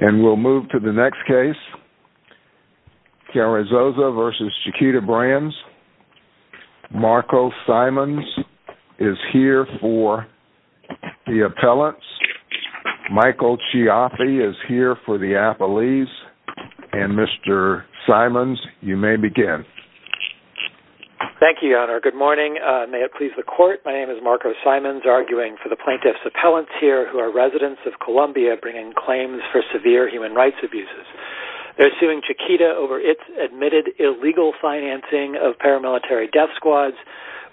And we'll move to the next case. Carrizosa v. Chiquita Brands. Marco Simons is here for the appellants. Michael Chiaffi is here for the appellees. And Mr. Simons, you may begin. Thank you, Your Honor. Good morning. May it please the Court, my name is Marco Simons, arguing for the plaintiffs' appellants here who are residents of Colombia bringing claims for severe human rights abuses. They're suing Chiquita over its admitted illegal financing of paramilitary death squads,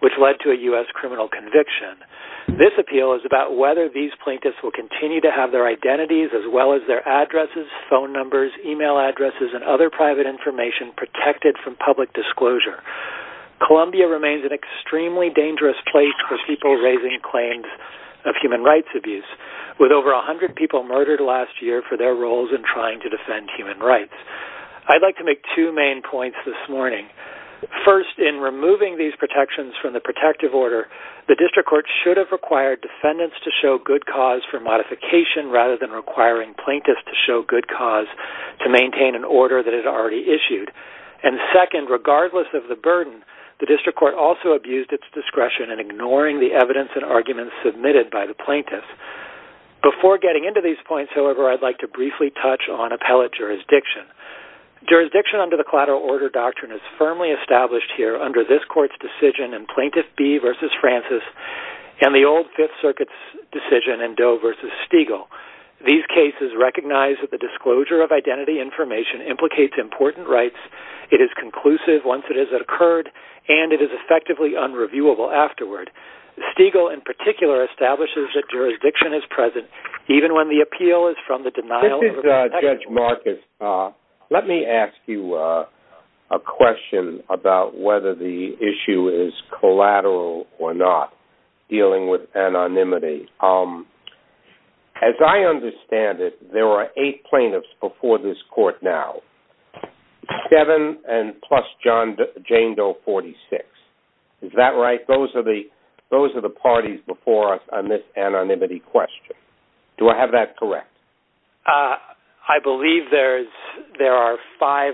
which led to a U.S. criminal conviction. This appeal is about whether these plaintiffs will continue to have their identities, as well as their addresses, phone numbers, email addresses, and other private information protected from public disclosure. Colombia remains an extremely dangerous place for people raising claims of human rights abuse, with over 100 people murdered last year for their roles in trying to defend human rights. I'd like to make two main points this morning. First, in removing these protections from the protective order, the district court should have required defendants to show good cause for modification rather than requiring plaintiffs to show good cause to maintain an order that is already issued. And second, regardless of the burden, the district court also abused its discretion in ignoring the evidence and arguments submitted by the plaintiffs. Before getting into these points, however, I'd like to briefly touch on appellate jurisdiction. Jurisdiction under the collateral order doctrine is firmly established here under this court's decision in Plaintiff B v. Francis and the old Fifth Circuit's decision in Doe v. Stiegel. These cases recognize that the disclosure of identity information implicates important rights, it is conclusive once it has occurred, and it is effectively unreviewable afterward. Stiegel, in particular, establishes that jurisdiction is present even when the appeal is from the denial of protection. This is Judge Marcus. Let me ask you a question about whether the issue is collateral or not, dealing with anonymity. As I understand it, there are eight plaintiffs before this court now, seven plus Jane Doe, 46. Is that right? Those are the parties before us on this anonymity question. Do I have that correct? I believe there are five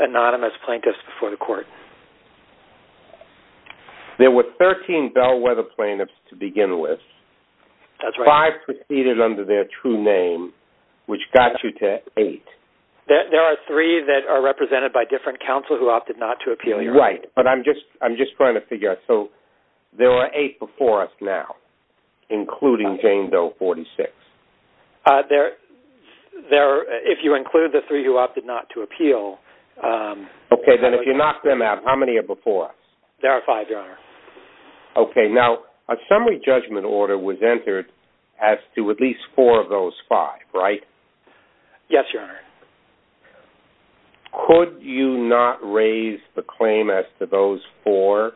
anonymous plaintiffs before the court. There were 13 Bellwether plaintiffs to begin with. That's right. Five proceeded under their true name, which got you to eight. There are three that are represented by different counsel who opted not to appeal. Right, but I'm just trying to figure out. So there are eight before us now, including Jane Doe, 46? If you include the three who opted not to appeal. Okay, then if you knock them out, how many are before us? There are five, Your Honor. Okay. Now, a summary judgment order was entered as to at least four of those five, right? Yes, Your Honor. Could you not raise the claim as to those four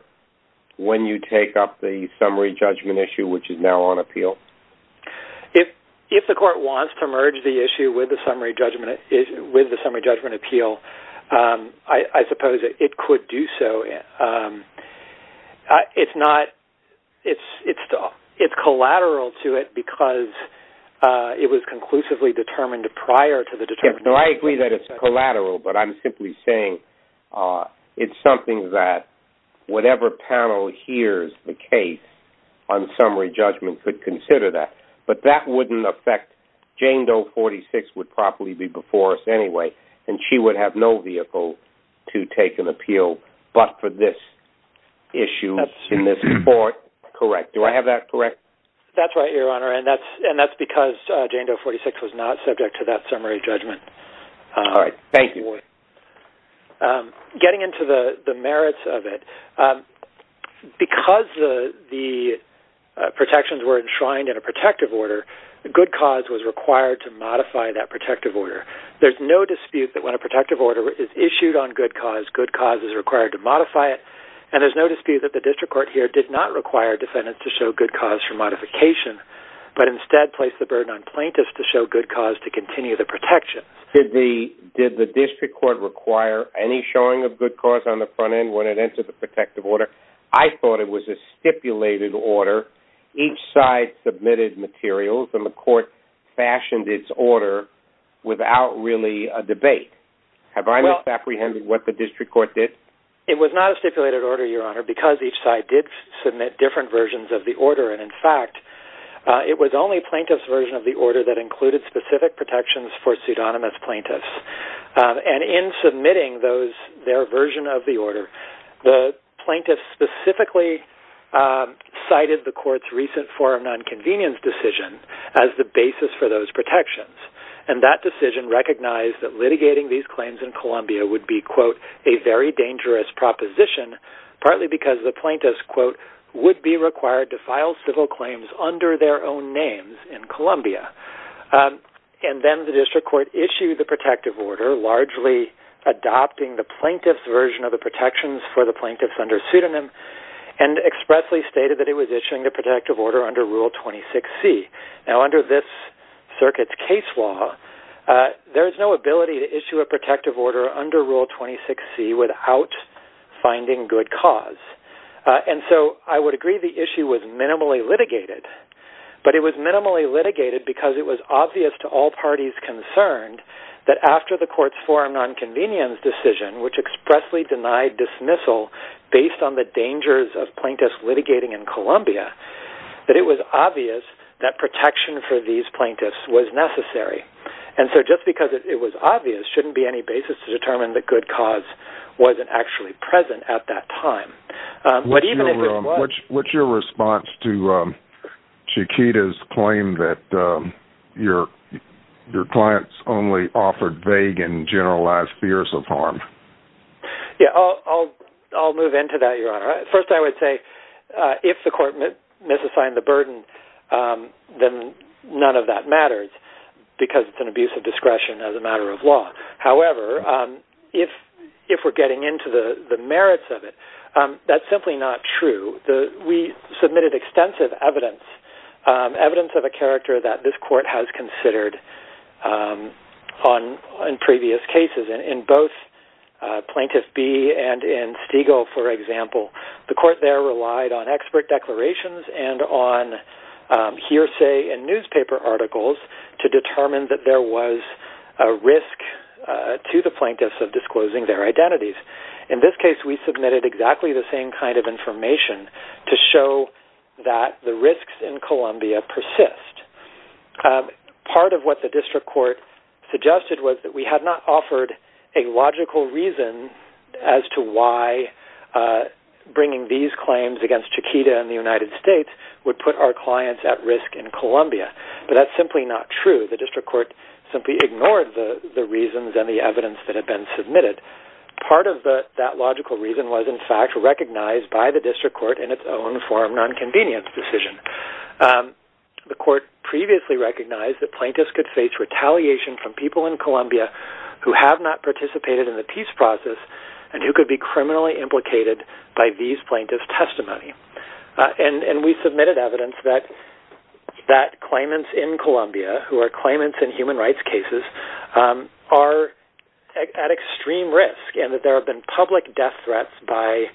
when you take up the summary judgment issue, which is now on appeal? If the court wants to merge the issue with the summary judgment appeal, I suppose it could do so. It's collateral to it because it was conclusively determined prior to the determination. No, I agree that it's collateral, but I'm simply saying it's something that whatever panel hears the case on summary judgment could consider that. But that wouldn't affect Jane Doe, 46 would probably be before us anyway, and she would have no vehicle to take an appeal but for this issue in this court. Correct. Do I have that correct? That's right, Your Honor, and that's because Jane Doe, 46 was not subject to that summary judgment. All right. Thank you. Getting into the merits of it, because the protections were enshrined in a protective order, good cause was required to modify that protective order. There's no dispute that when a protective order is issued on good cause, good cause is required to modify it, and there's no dispute that the district court here did not require defendants to show good cause for modification, but instead placed the burden on plaintiffs to show good cause to continue the protection. Did the district court require any showing of good cause on the front end when it entered the protective order? I thought it was a stipulated order. Each side submitted materials, and the court fashioned its order without really a debate. Have I misapprehended what the district court did? It was not a stipulated order, Your Honor, because each side did submit different versions of the order, and, in fact, it was only plaintiffs' version of the order that included specific protections for pseudonymous plaintiffs. And in submitting their version of the order, the plaintiffs specifically cited the court's recent foreign nonconvenience decision as the basis for those protections, and that decision recognized that litigating these claims in Colombia would be, quote, a very dangerous proposition, partly because the plaintiffs, quote, would be required to file civil claims under their own names in Colombia. And then the district court issued the protective order, largely adopting the plaintiffs' version of the protections for the plaintiffs under pseudonym, and expressly stated that it was issuing the protective order under Rule 26C. Now, under this circuit's case law, there is no ability to issue a protective order under Rule 26C without finding good cause. And so I would agree the issue was minimally litigated, but it was minimally litigated because it was obvious to all parties concerned that after the court's foreign nonconvenience decision, which expressly denied dismissal based on the dangers of plaintiffs litigating in Colombia, that it was obvious that protection for these plaintiffs was necessary. And so just because it was obvious shouldn't be any basis to determine that good cause wasn't actually present at that time. What's your response to Chiquita's claim that your clients only offered vague and generalized fears of harm? Yeah, I'll move into that, Your Honor. First, I would say if the court misassigned the burden, then none of that matters because it's an abuse of discretion as a matter of law. However, if we're getting into the merits of it, that's simply not true. We submitted extensive evidence, evidence of a character that this court has considered on previous cases. In both Plaintiff B and in Stiegel, for example, the court there relied on expert declarations and on hearsay and newspaper articles to determine that there was a risk to the plaintiffs of disclosing their identities. In this case, we submitted exactly the same kind of information to show that the risks in Colombia persist. Part of what the district court suggested was that we had not offered a logical reason as to why bringing these claims against Chiquita in the United States would put our clients at risk in Colombia. But that's simply not true. The district court simply ignored the reasons and the evidence that had been submitted. Part of that logical reason was, in fact, recognized by the district court in its own form nonconvenience decision. The court previously recognized that plaintiffs could face retaliation from people in Colombia who have not participated in the peace process and who could be criminally implicated by these plaintiffs' testimony. We submitted evidence that claimants in Colombia who are claimants in human rights cases are at extreme risk and that there have been public death threats by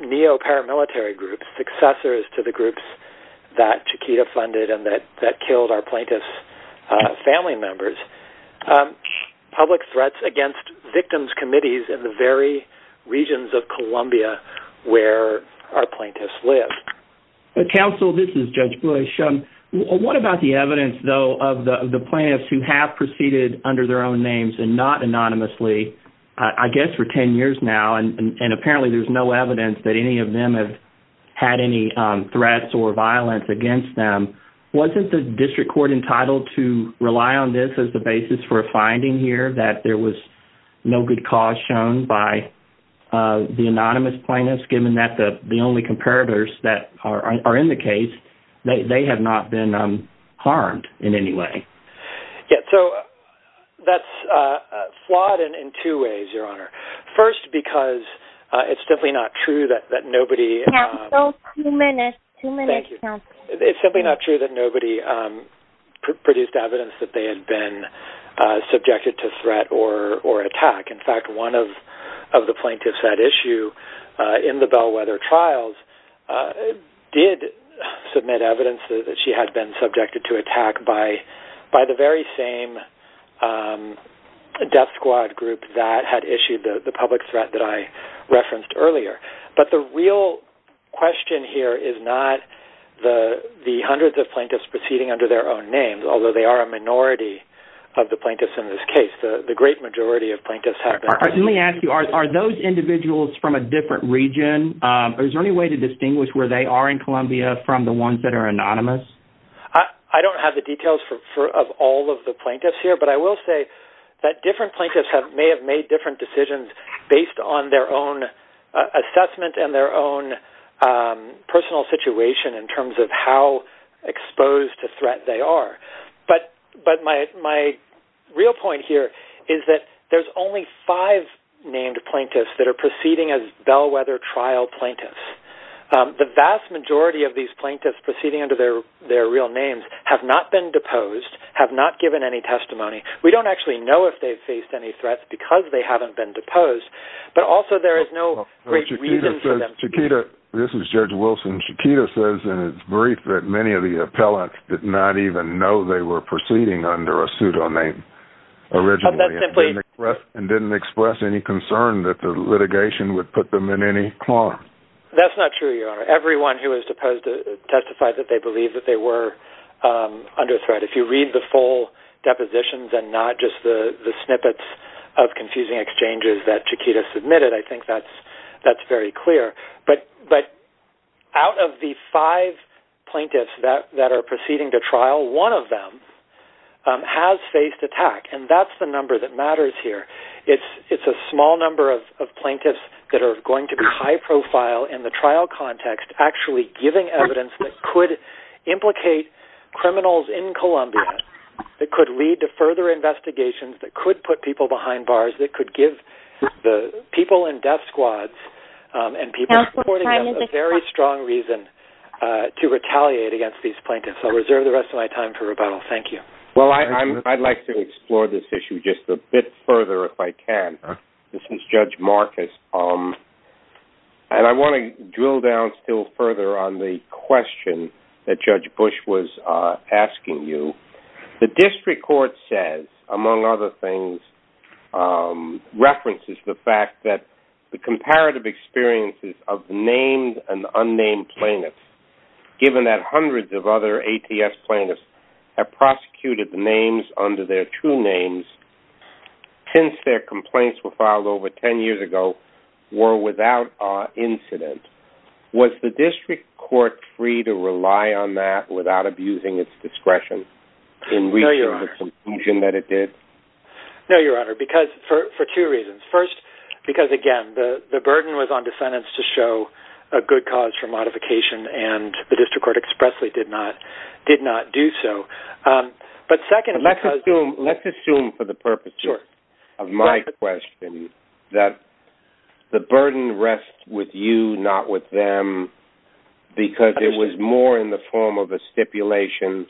neo-paramilitary groups, successors to the groups that Chiquita funded and that killed our plaintiffs' family members, public threats against victims' committees in the very regions of Colombia where our plaintiffs live. Counsel, this is Judge Bush. What about the evidence, though, of the plaintiffs who have proceeded under their own names and not anonymously, I guess, for 10 years now, and apparently there's no evidence that any of them have had any threats or violence against them? Wasn't the district court entitled to rely on this as the basis for a finding here that there was no good cause shown by the anonymous plaintiffs, given that the only comparators that are in the case, they have not been harmed in any way? Yes, so that's flawed in two ways, Your Honor. First, because it's simply not true that nobody produced evidence that they had been subjected to threat or attack. In fact, one of the plaintiffs at issue in the Bellwether trials did submit evidence that she had been subjected to attack by the very same death squad group that had issued the public threat that I referenced earlier. But the real question here is not the hundreds of plaintiffs proceeding under their own names, although they are a minority of the plaintiffs in this case. The great majority of plaintiffs have been. Let me ask you, are those individuals from a different region? Is there any way to distinguish where they are in Columbia from the ones that are anonymous? I don't have the details of all of the plaintiffs here, but I will say that different plaintiffs may have made different decisions based on their own assessment and their own personal situation in terms of how exposed to threat they are. But my real point here is that there's only five named plaintiffs that are proceeding as Bellwether trial plaintiffs. The vast majority of these plaintiffs proceeding under their real names have not been deposed, have not given any testimony. We don't actually know if they've faced any threats because they haven't been deposed, but also there is no great reason for them. Chiquita, this is Judge Wilson. Chiquita says in his brief that many of the appellants did not even know they were proceeding under a pseudoname originally and didn't express any concern that the litigation would put them in any harm. That's not true, Your Honor. Everyone who was deposed testified that they believed that they were under threat. If you read the full depositions and not just the snippets of confusing exchanges that Chiquita submitted, I think that's very clear. But out of the five plaintiffs that are proceeding to trial, one of them has faced attack, and that's the number that matters here. It's a small number of plaintiffs that are going to be high profile in the trial context, actually giving evidence that could implicate criminals in Columbia, that could lead to further investigations, that could put people behind bars, that could give the people in death squads and people reporting them a very strong reason to retaliate against these plaintiffs. I'll reserve the rest of my time for rebuttal. Thank you. Well, I'd like to explore this issue just a bit further if I can. This is Judge Marcus, and I want to drill down still further on the question that Judge Bush was asking you. The district court says, among other things, references the fact that the comparative experiences of named and unnamed plaintiffs, given that hundreds of other ATS plaintiffs have prosecuted the names under their true names since their complaints were filed over ten years ago, were without incident. Was the district court free to rely on that without abusing its discretion in reaching the conclusion that it did? No, Your Honor, for two reasons. First, because, again, the burden was on defendants to show a good cause for modification, and the district court expressly did not do so. Let's assume for the purposes of my question that the burden rests with you, not with them, because it was more in the form of a stipulation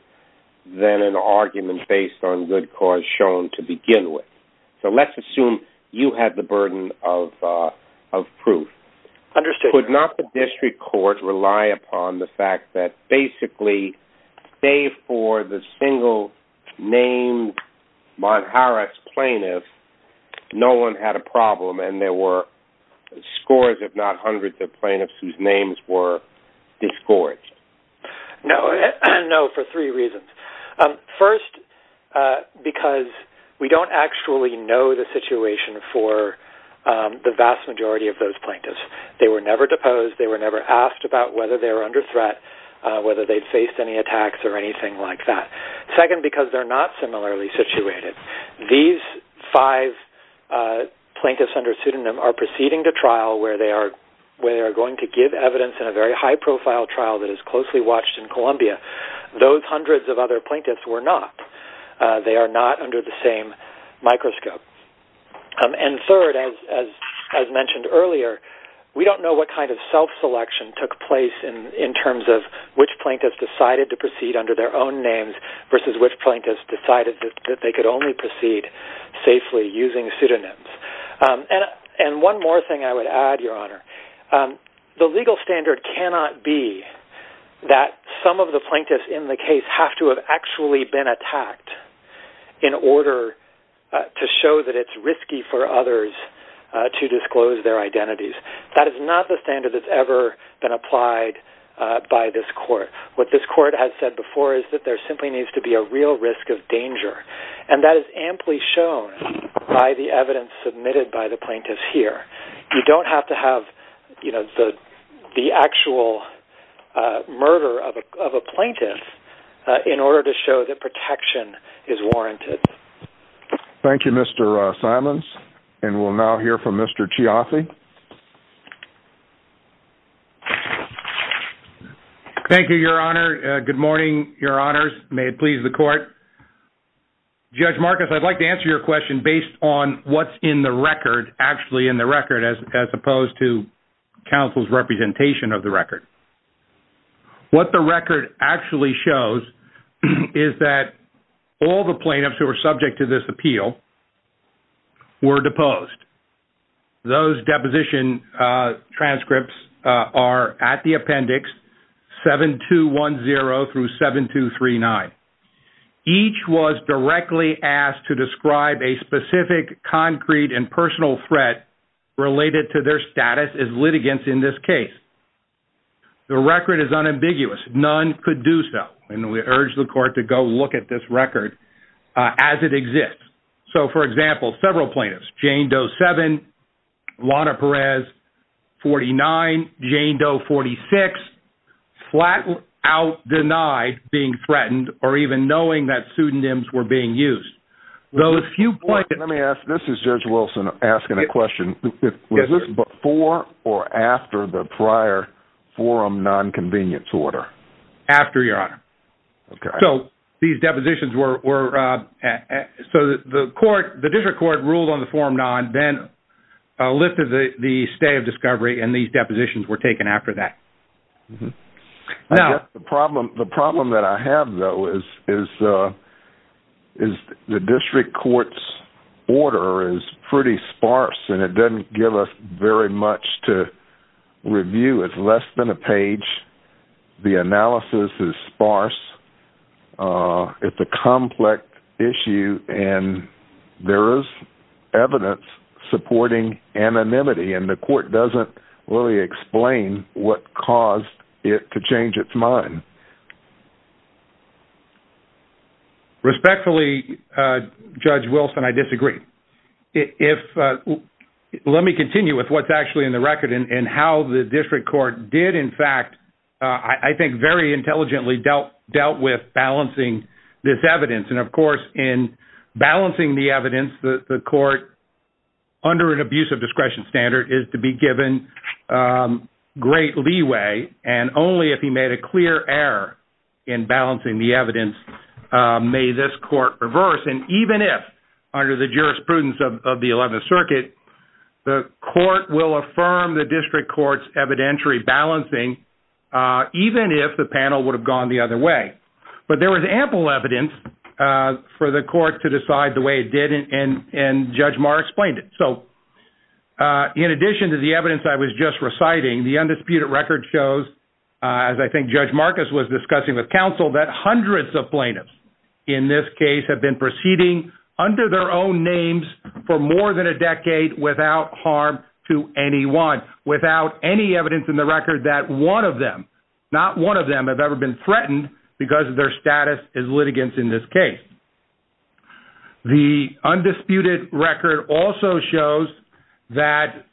than an argument based on good cause shown to begin with. So let's assume you had the burden of proof. Understood, Your Honor. Did the district court rely upon the fact that basically, save for the single-named Monterey Harris plaintiff, no one had a problem and there were scores, if not hundreds, of plaintiffs whose names were disgorged? No, for three reasons. First, because we don't actually know the situation for the vast majority of those plaintiffs. They were never deposed. They were never asked about whether they were under threat, whether they'd faced any attacks or anything like that. Second, because they're not similarly situated. These five plaintiffs under pseudonym are proceeding to trial where they are going to give evidence in a very high-profile trial that is closely watched in Columbia. Those hundreds of other plaintiffs were not. They are not under the same microscope. And third, as mentioned earlier, we don't know what kind of self-selection took place in terms of which plaintiffs decided to proceed under their own names versus which plaintiffs decided that they could only proceed safely using pseudonyms. And one more thing I would add, Your Honor. The legal standard cannot be that some of the plaintiffs in the case have to have actually been attacked in order to show that it's risky for others to disclose their identities. That is not the standard that's ever been applied by this court. What this court has said before is that there simply needs to be a real risk of danger, and that is amply shown by the evidence submitted by the plaintiffs here. You don't have to have the actual murder of a plaintiff in order to show that protection is warranted. Thank you, Mr. Simons. And we'll now hear from Mr. Chiaffi. Thank you, Your Honor. Good morning, Your Honors. May it please the Court. Judge Marcus, I'd like to answer your question based on what's in the record, actually in the record as opposed to counsel's representation of the record. What the record actually shows is that all the plaintiffs who were subject to this appeal were deposed. Those deposition transcripts are at the appendix 7210 through 7239. Each was directly asked to describe a specific concrete and personal threat related to their status as litigants in this case. The record is unambiguous. None could do so, and we urge the Court to go look at this record as it exists. So, for example, several plaintiffs, Jane Doe 7, Lana Perez 49, Jane Doe 46, flat out denied being threatened or even knowing that pseudonyms were being used. Let me ask, this is Judge Wilson asking a question. Was this before or after the prior forum nonconvenience order? After, Your Honor. So these depositions were, so the District Court ruled on the forum non, then lifted the stay of discovery, and these depositions were taken after that. The problem that I have though is the District Court's order is pretty sparse, and it doesn't give us very much to review. It's less than a page. The analysis is sparse. It's a complex issue, and there is evidence supporting anonymity, and the Court doesn't really explain what caused it to change its mind. Respectfully, Judge Wilson, I disagree. Let me continue with what's actually in the record and how the District Court did, in fact, I think, very intelligently dealt with balancing this evidence. And, of course, in balancing the evidence, the Court, under an abuse of discretion standard, is to be given great leeway, and only if he made a clear error in balancing the evidence may this Court reverse. And even if, under the jurisprudence of the Eleventh Circuit, the Court will affirm the District Court's evidentiary balancing, even if the panel would have gone the other way. But there was ample evidence for the Court to decide the way it did, and Judge Maher explained it. So in addition to the evidence I was just reciting, the undisputed record shows, as I think Judge Marcus was discussing with counsel, that hundreds of plaintiffs in this case have been proceeding under their own names for more than a decade without harm to anyone, without any evidence in the record that one of them, not one of them, have ever been threatened because of their status as litigants in this case. The undisputed record also shows that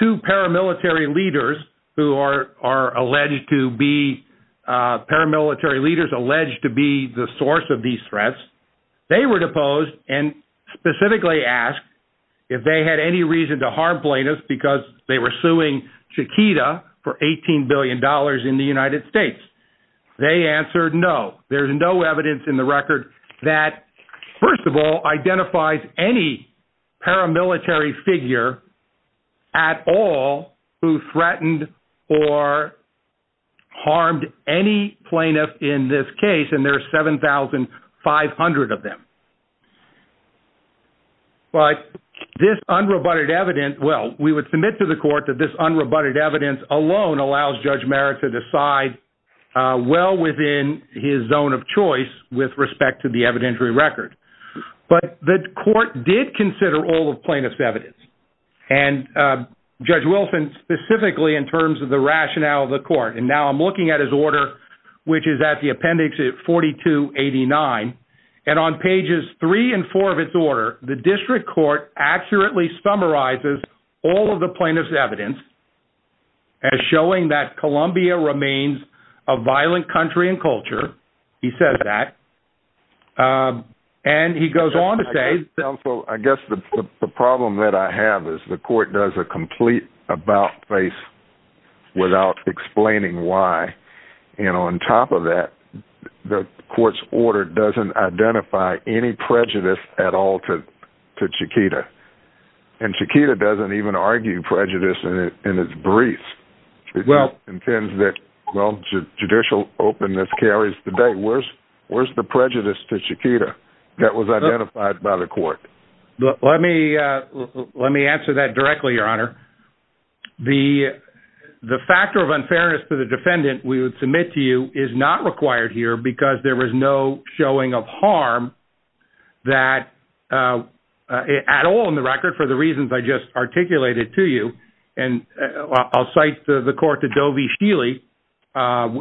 two paramilitary leaders who are alleged to be, paramilitary leaders alleged to be the source of these threats, they were deposed and specifically asked if they had any reason to harm plaintiffs because they were suing Chiquita for $18 billion in the United States. They answered no. There's no evidence in the record that, first of all, identifies any paramilitary figure at all who threatened or harmed any plaintiff in this case, and there are 7,500 of them. But this unrebutted evidence, well, we would submit to the Court that this unrebutted evidence alone allows Judge Maher to decide well within his zone of choice with respect to the evidentiary record. But the Court did consider all of plaintiff's evidence, and Judge Wilson specifically in terms of the rationale of the Court, and now I'm looking at his order, which is at the appendix at 4289, and on pages three and four of its order, the District Court accurately summarizes all of the plaintiff's evidence as showing that Columbia remains a violent country and culture. He says that, and he goes on to say... I guess the problem that I have is the Court does a complete about-face without explaining why, and on top of that, the Court's order doesn't identify any prejudice at all to Chiquita, and Chiquita doesn't even argue prejudice in its brief. It just intends that, well, judicial openness carries the day. Where's the prejudice to Chiquita that was identified by the Court? Let me answer that directly, Your Honor. The factor of unfairness to the defendant we would submit to you is not required here because there was no showing of harm at all in the record for the reasons I just articulated to you, and I'll cite the Court to Doe v. Scheele,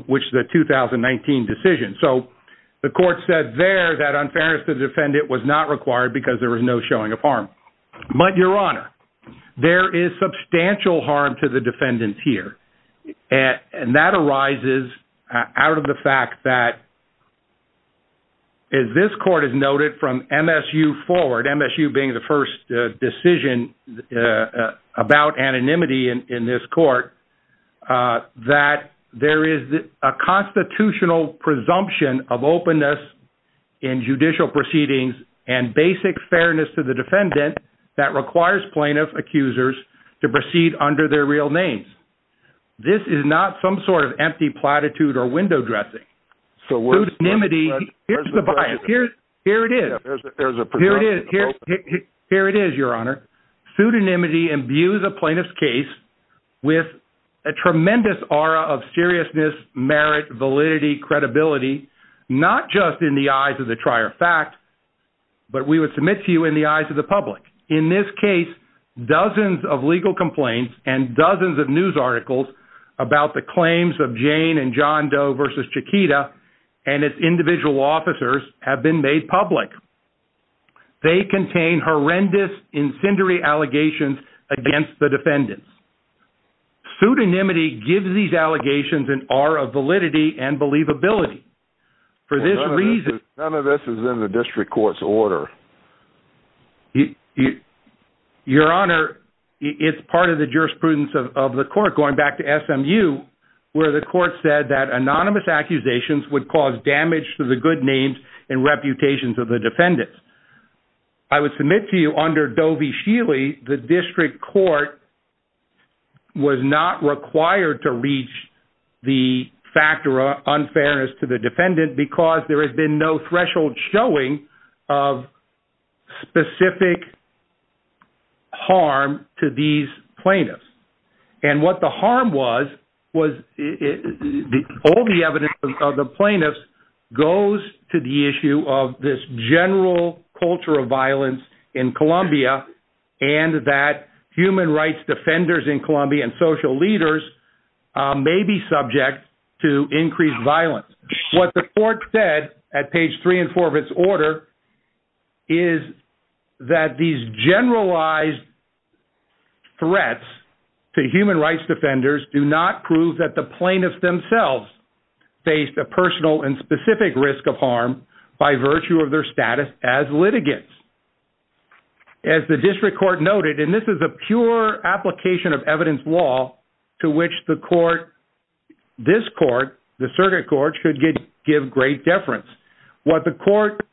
which is a 2019 decision. So the Court said there that unfairness to the defendant was not required because there was no showing of harm. But, Your Honor, there is substantial harm to the defendant here, and that arises out of the fact that this Court has noted from MSU forward, MSU being the first decision about anonymity in this Court, that there is a constitutional presumption of openness in judicial proceedings and basic fairness to the defendant that requires plaintiff accusers to proceed under their real names. This is not some sort of empty platitude or window dressing. Here's the bias. Here it is. There's a presumption of openness. Here it is, Your Honor. Pseudonymity imbues a plaintiff's case with a tremendous aura of seriousness, merit, validity, credibility, not just in the eyes of the trier of fact, but we would submit to you in the eyes of the public. In this case, dozens of legal complaints and dozens of news articles about the claims of Jane and John Doe versus Chiquita and its individual officers have been made public. They contain horrendous, incendiary allegations against the defendants. Pseudonymity gives these allegations an aura of validity and believability. None of this is in the District Court's order. Your Honor, it's part of the jurisprudence of the court, going back to SMU, where the court said that anonymous accusations would cause damage to the good names and reputations of the defendants. I would submit to you under Doe v. Shealy, the District Court was not required to reach the factor of unfairness to the defendant because there has been no threshold showing of specific harm to these plaintiffs. And what the harm was, was all the evidence of the plaintiffs goes to the issue of this general culture of violence in Colombia and that human rights defenders in Colombia and social leaders may be subject to increased violence. What the court said at page 3 and 4 of its order is that these generalized threats to human rights defenders do not prove that the plaintiffs themselves faced a personal and specific risk of harm by virtue of their status as litigants. As the District Court noted, and this is a pure application of evidence law to which the court, this court, the circuit court, should give great deference. What the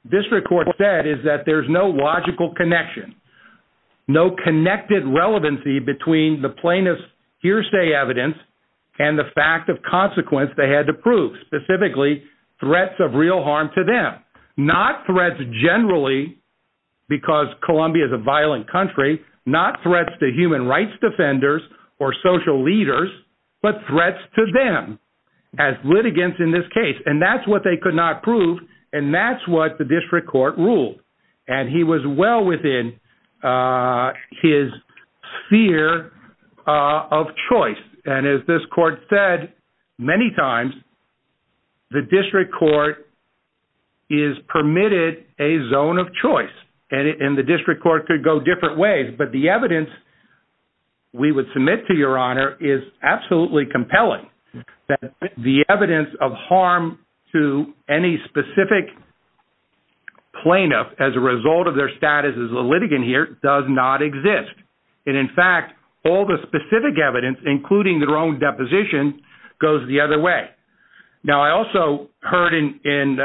District Court said is that there's no logical connection, no connected relevancy between the plaintiff's hearsay evidence and the fact of consequence they had to prove, specifically threats of real harm to them. Not threats generally, because Colombia is a violent country, not threats to human rights defenders or social leaders, but threats to them as litigants in this case. And that's what they could not prove, and that's what the District Court ruled. And he was well within his sphere of choice. And as this court said many times, the District Court is permitted a zone of choice. And the District Court could go different ways. But the evidence we would submit to Your Honor is absolutely compelling, that the evidence of harm to any specific plaintiff as a result of their status as a litigant here does not exist. And in fact, all the specific evidence, including their own deposition, goes the other way. Now, I also heard in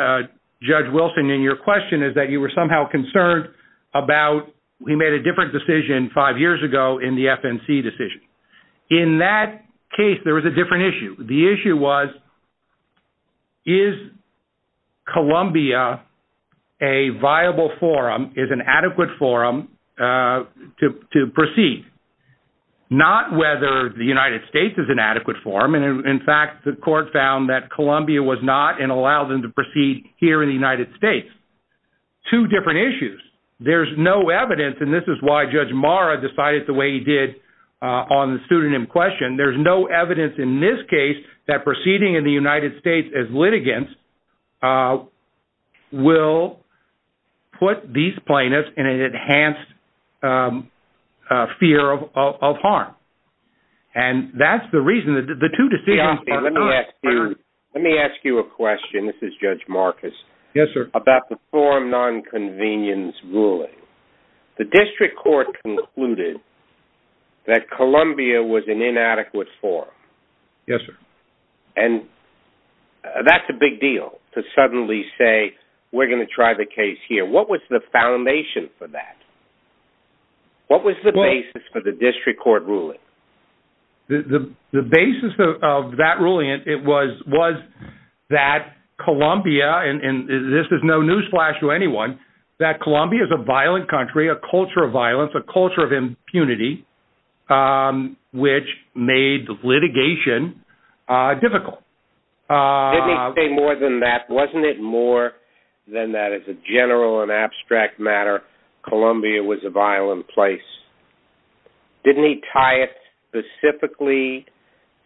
Judge Wilson, in your question, is that you were somehow concerned about, he made a different decision five years ago in the FNC decision. In that case, there was a different issue. The issue was, is Colombia a viable forum, is an adequate forum to proceed? Not whether the United States is an adequate forum. And in fact, the court found that Colombia was not, and allowed them to proceed here in the United States. Two different issues. There's no evidence, and this is why Judge Marra decided the way he did on the pseudonym question. There's no evidence in this case that proceeding in the United States as litigants will put these plaintiffs in an enhanced fear of harm. And that's the reason, the two decisions are concurrent. Let me ask you a question. This is Judge Marcus. Yes, sir. About the forum nonconvenience ruling. The district court concluded that Colombia was an inadequate forum. Yes, sir. And that's a big deal, to suddenly say, we're going to try the case here. What was the foundation for that? What was the basis for the district court ruling? The basis of that ruling, it was that Colombia, and this is no newsflash to anyone, that Colombia is a violent country, a culture of violence, a culture of impunity, which made litigation difficult. Didn't he say more than that? Wasn't it more than that? As a general and abstract matter, Colombia was a violent place. Didn't he tie it specifically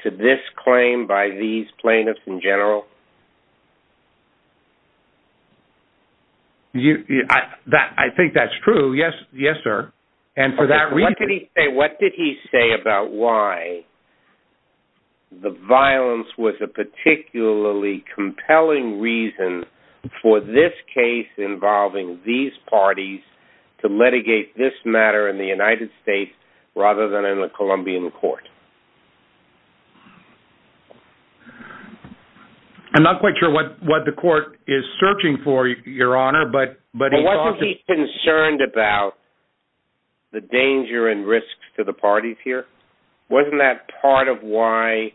to this claim by these plaintiffs in general? I think that's true. Yes, sir. What did he say about why the violence was a particularly compelling reason for this case involving these parties to litigate this matter in the United States rather than in the Colombian court? I'm not quite sure what the court is searching for, Your Honor. Wasn't he concerned about the danger and risks to the parties here? Wasn't that part of why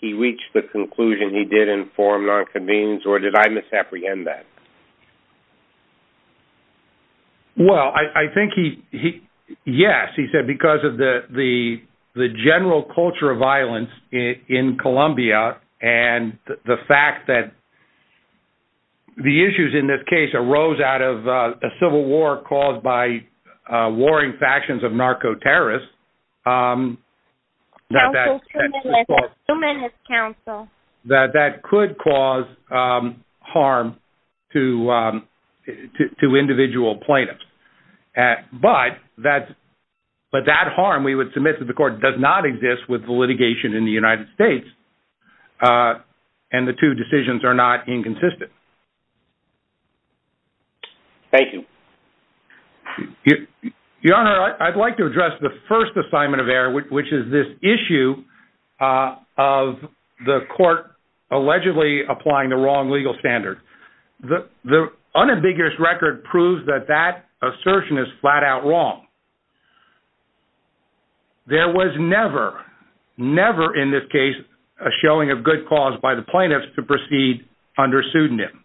he reached the conclusion he did inform nonconvenience, or did I misapprehend that? Well, I think he, yes, he said because of the general culture of violence in Colombia, and the fact that the issues in this case arose out of a civil war caused by warring factions of narco-terrorists, that that could cause harm to individual plaintiffs. But that harm, we would submit to the court, does not exist with the litigation in the United States, and the two decisions are not inconsistent. Thank you. Your Honor, I'd like to address the first assignment of error, which is this issue of the court allegedly applying the wrong legal standard. The unambiguous record proves that that assertion is flat out wrong. There was never, never in this case, a showing of good cause by the plaintiffs to proceed under pseudonym.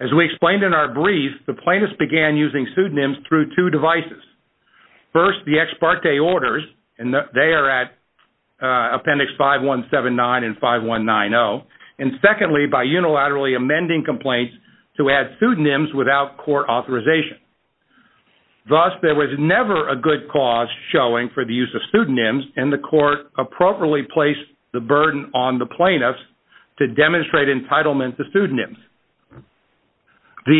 As we explained in our brief, the plaintiffs began using pseudonyms through two devices. First, the ex parte orders, and they are at appendix 5179 and 5190. And secondly, by unilaterally amending complaints to add pseudonyms without court authorization. Thus, there was never a good cause showing for the use of pseudonyms, and the court appropriately placed the burden on the plaintiffs to demonstrate entitlement to pseudonyms. This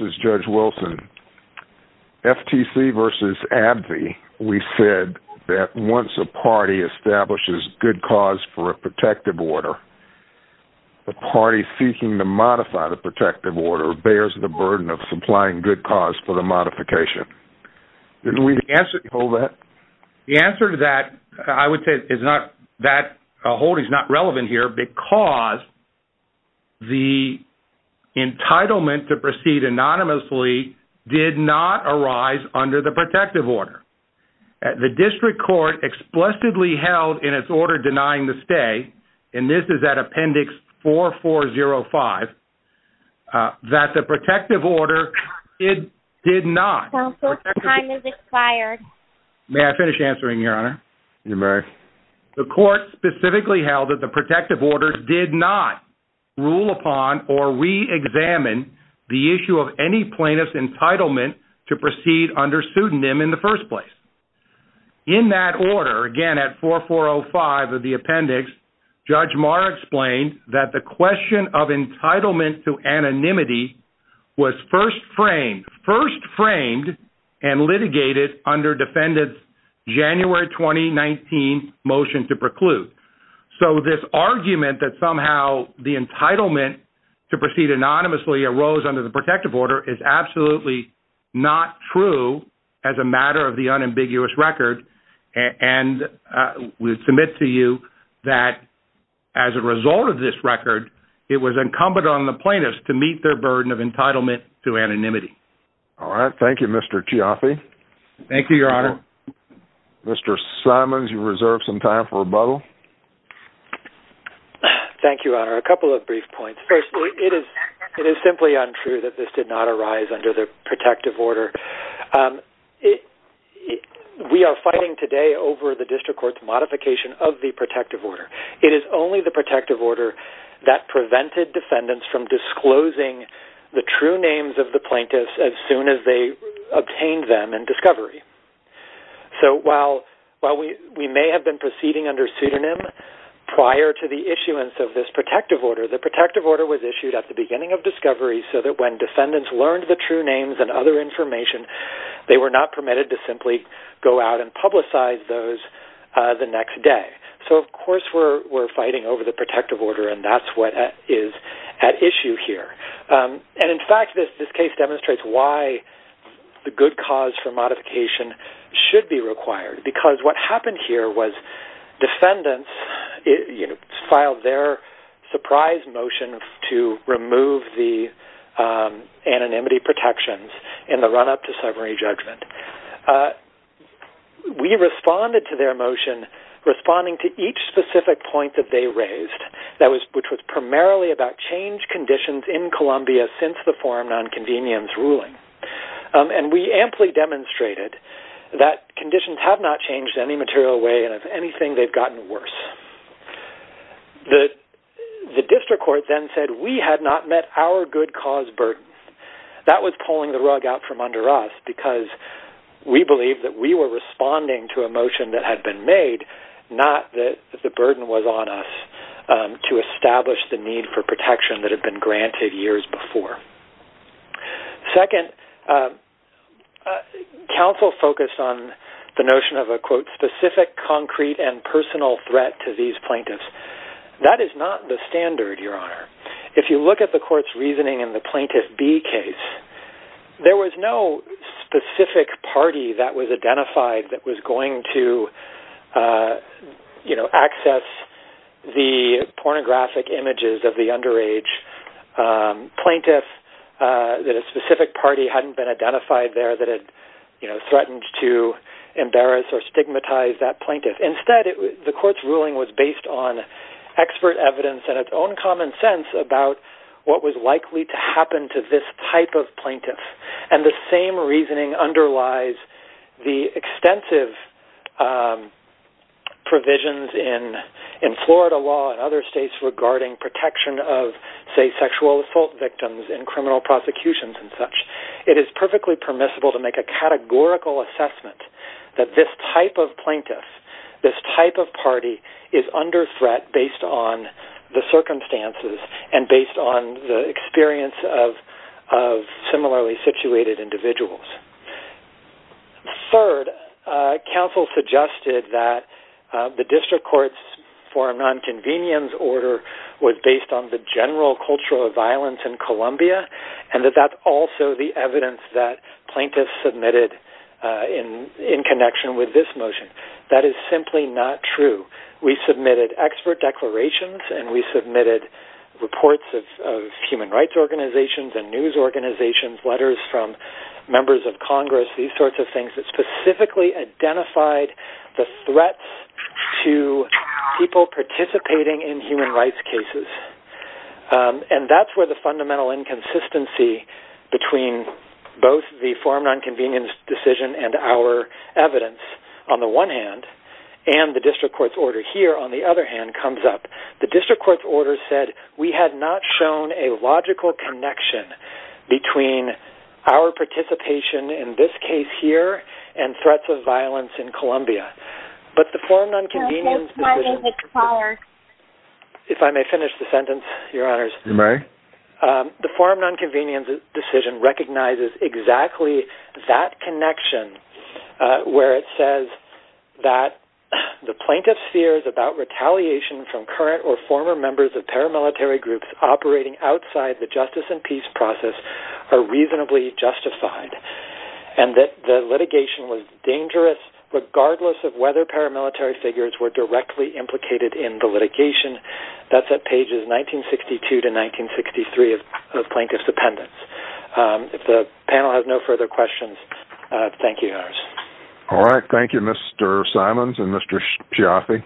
is Judge Wilson. FTC versus AbbVie, we said that once a party establishes good cause for a protective order, the party seeking to modify the protective order bears the burden of supplying good cause for the modification. The answer to that, I would say, that holding is not relevant here because the entitlement to proceed anonymously did not arise under the protective order. The district court explicitly held in its order denying the stay, and this is at appendix 4405, that the protective order did not. May I finish answering, Your Honor? You may. The court specifically held that the protective order did not rule upon or re-examine the issue of any plaintiff's entitlement to proceed under pseudonym in the first place. In that order, again at 4405 of the appendix, Judge Maher explained that the question of entitlement to anonymity was first framed and litigated under defendant's January 2019 motion to preclude. So this argument that somehow the entitlement to proceed anonymously arose under the protective order is absolutely not true as a matter of the unambiguous record, and we submit to you that as a result of this record, it was incumbent on the plaintiffs to meet their burden of entitlement to anonymity. All right. Thank you, Mr. Chiaffi. Mr. Simons, you reserve some time for rebuttal. Thank you, Your Honor. A couple of brief points. First, it is simply untrue that this did not arise under the protective order. We are fighting today over the district court's modification of the protective order. It is only the protective order that prevented defendants from disclosing the true names of the plaintiffs as soon as they obtained them in discovery. So while we may have been proceeding under pseudonym prior to the issuance of this protective order, the protective order was issued at the beginning of discovery so that when defendants learned the true names and other information, they were not permitted to simply go out and publicize those the next day. So, of course, we're fighting over the protective order, and that's what is at issue here. And, in fact, this case demonstrates why the good cause for modification should be required. Because what happened here was defendants filed their surprise motion to remove the anonymity protections in the run-up to summary judgment. We responded to their motion responding to each specific point that they raised, which was primarily about change conditions in Columbia since the forum nonconvenience ruling. And we amply demonstrated that conditions have not changed in any material way, and if anything, they've gotten worse. The district court then said we had not met our good cause burden. That was pulling the rug out from under us because we believed that we were responding to a motion that had been made, not that the burden was on us to establish the need for protection that had been granted years before. Second, counsel focused on the notion of a, quote, specific, concrete, and personal threat to these plaintiffs. That is not the standard, Your Honor. If you look at the court's reasoning in the Plaintiff B case, there was no specific party that was identified that was going to, you know, access the pornographic images of the underage plaintiff, that a specific party hadn't been identified there that had, you know, threatened to embarrass or stigmatize that plaintiff. Instead, the court's ruling was based on expert evidence and its own common sense about what was likely to happen to this type of plaintiff. And the same reasoning underlies the extensive provisions in Florida law and other states regarding protection of, say, sexual assault victims in criminal prosecutions and such. It is perfectly permissible to make a categorical assessment that this type of plaintiff, this type of party, is under threat based on the circumstances and based on the experience of similarly situated individuals. Third, counsel suggested that the district court's foreign nonconvenience order was based on the general culture of violence in Columbia and that that's also the evidence that plaintiffs submitted in connection with this motion. That is simply not true. We submitted expert declarations and we submitted reports of human rights organizations and news organizations, letters from members of Congress, these sorts of things that specifically identified the threats to people participating in human rights cases. And that's where the fundamental inconsistency between both the foreign nonconvenience decision and our evidence on the one hand and the district court's order here on the other hand comes up. The district court's order said we had not shown a logical connection between our participation in this case here and threats of violence in Columbia. But the foreign nonconvenience decision recognizes exactly that connection where it says that the plaintiff's fears about retaliation from current or former members of paramilitary groups operating outside the justice and peace process are reasonably justified. And that the litigation was dangerous regardless of whether paramilitary figures were directly implicated in the litigation. That's at pages 1962 to 1963 of Plaintiff's Appendix. If the panel has no further questions, thank you. All right, thank you Mr. Simons and Mr. Schiaffi.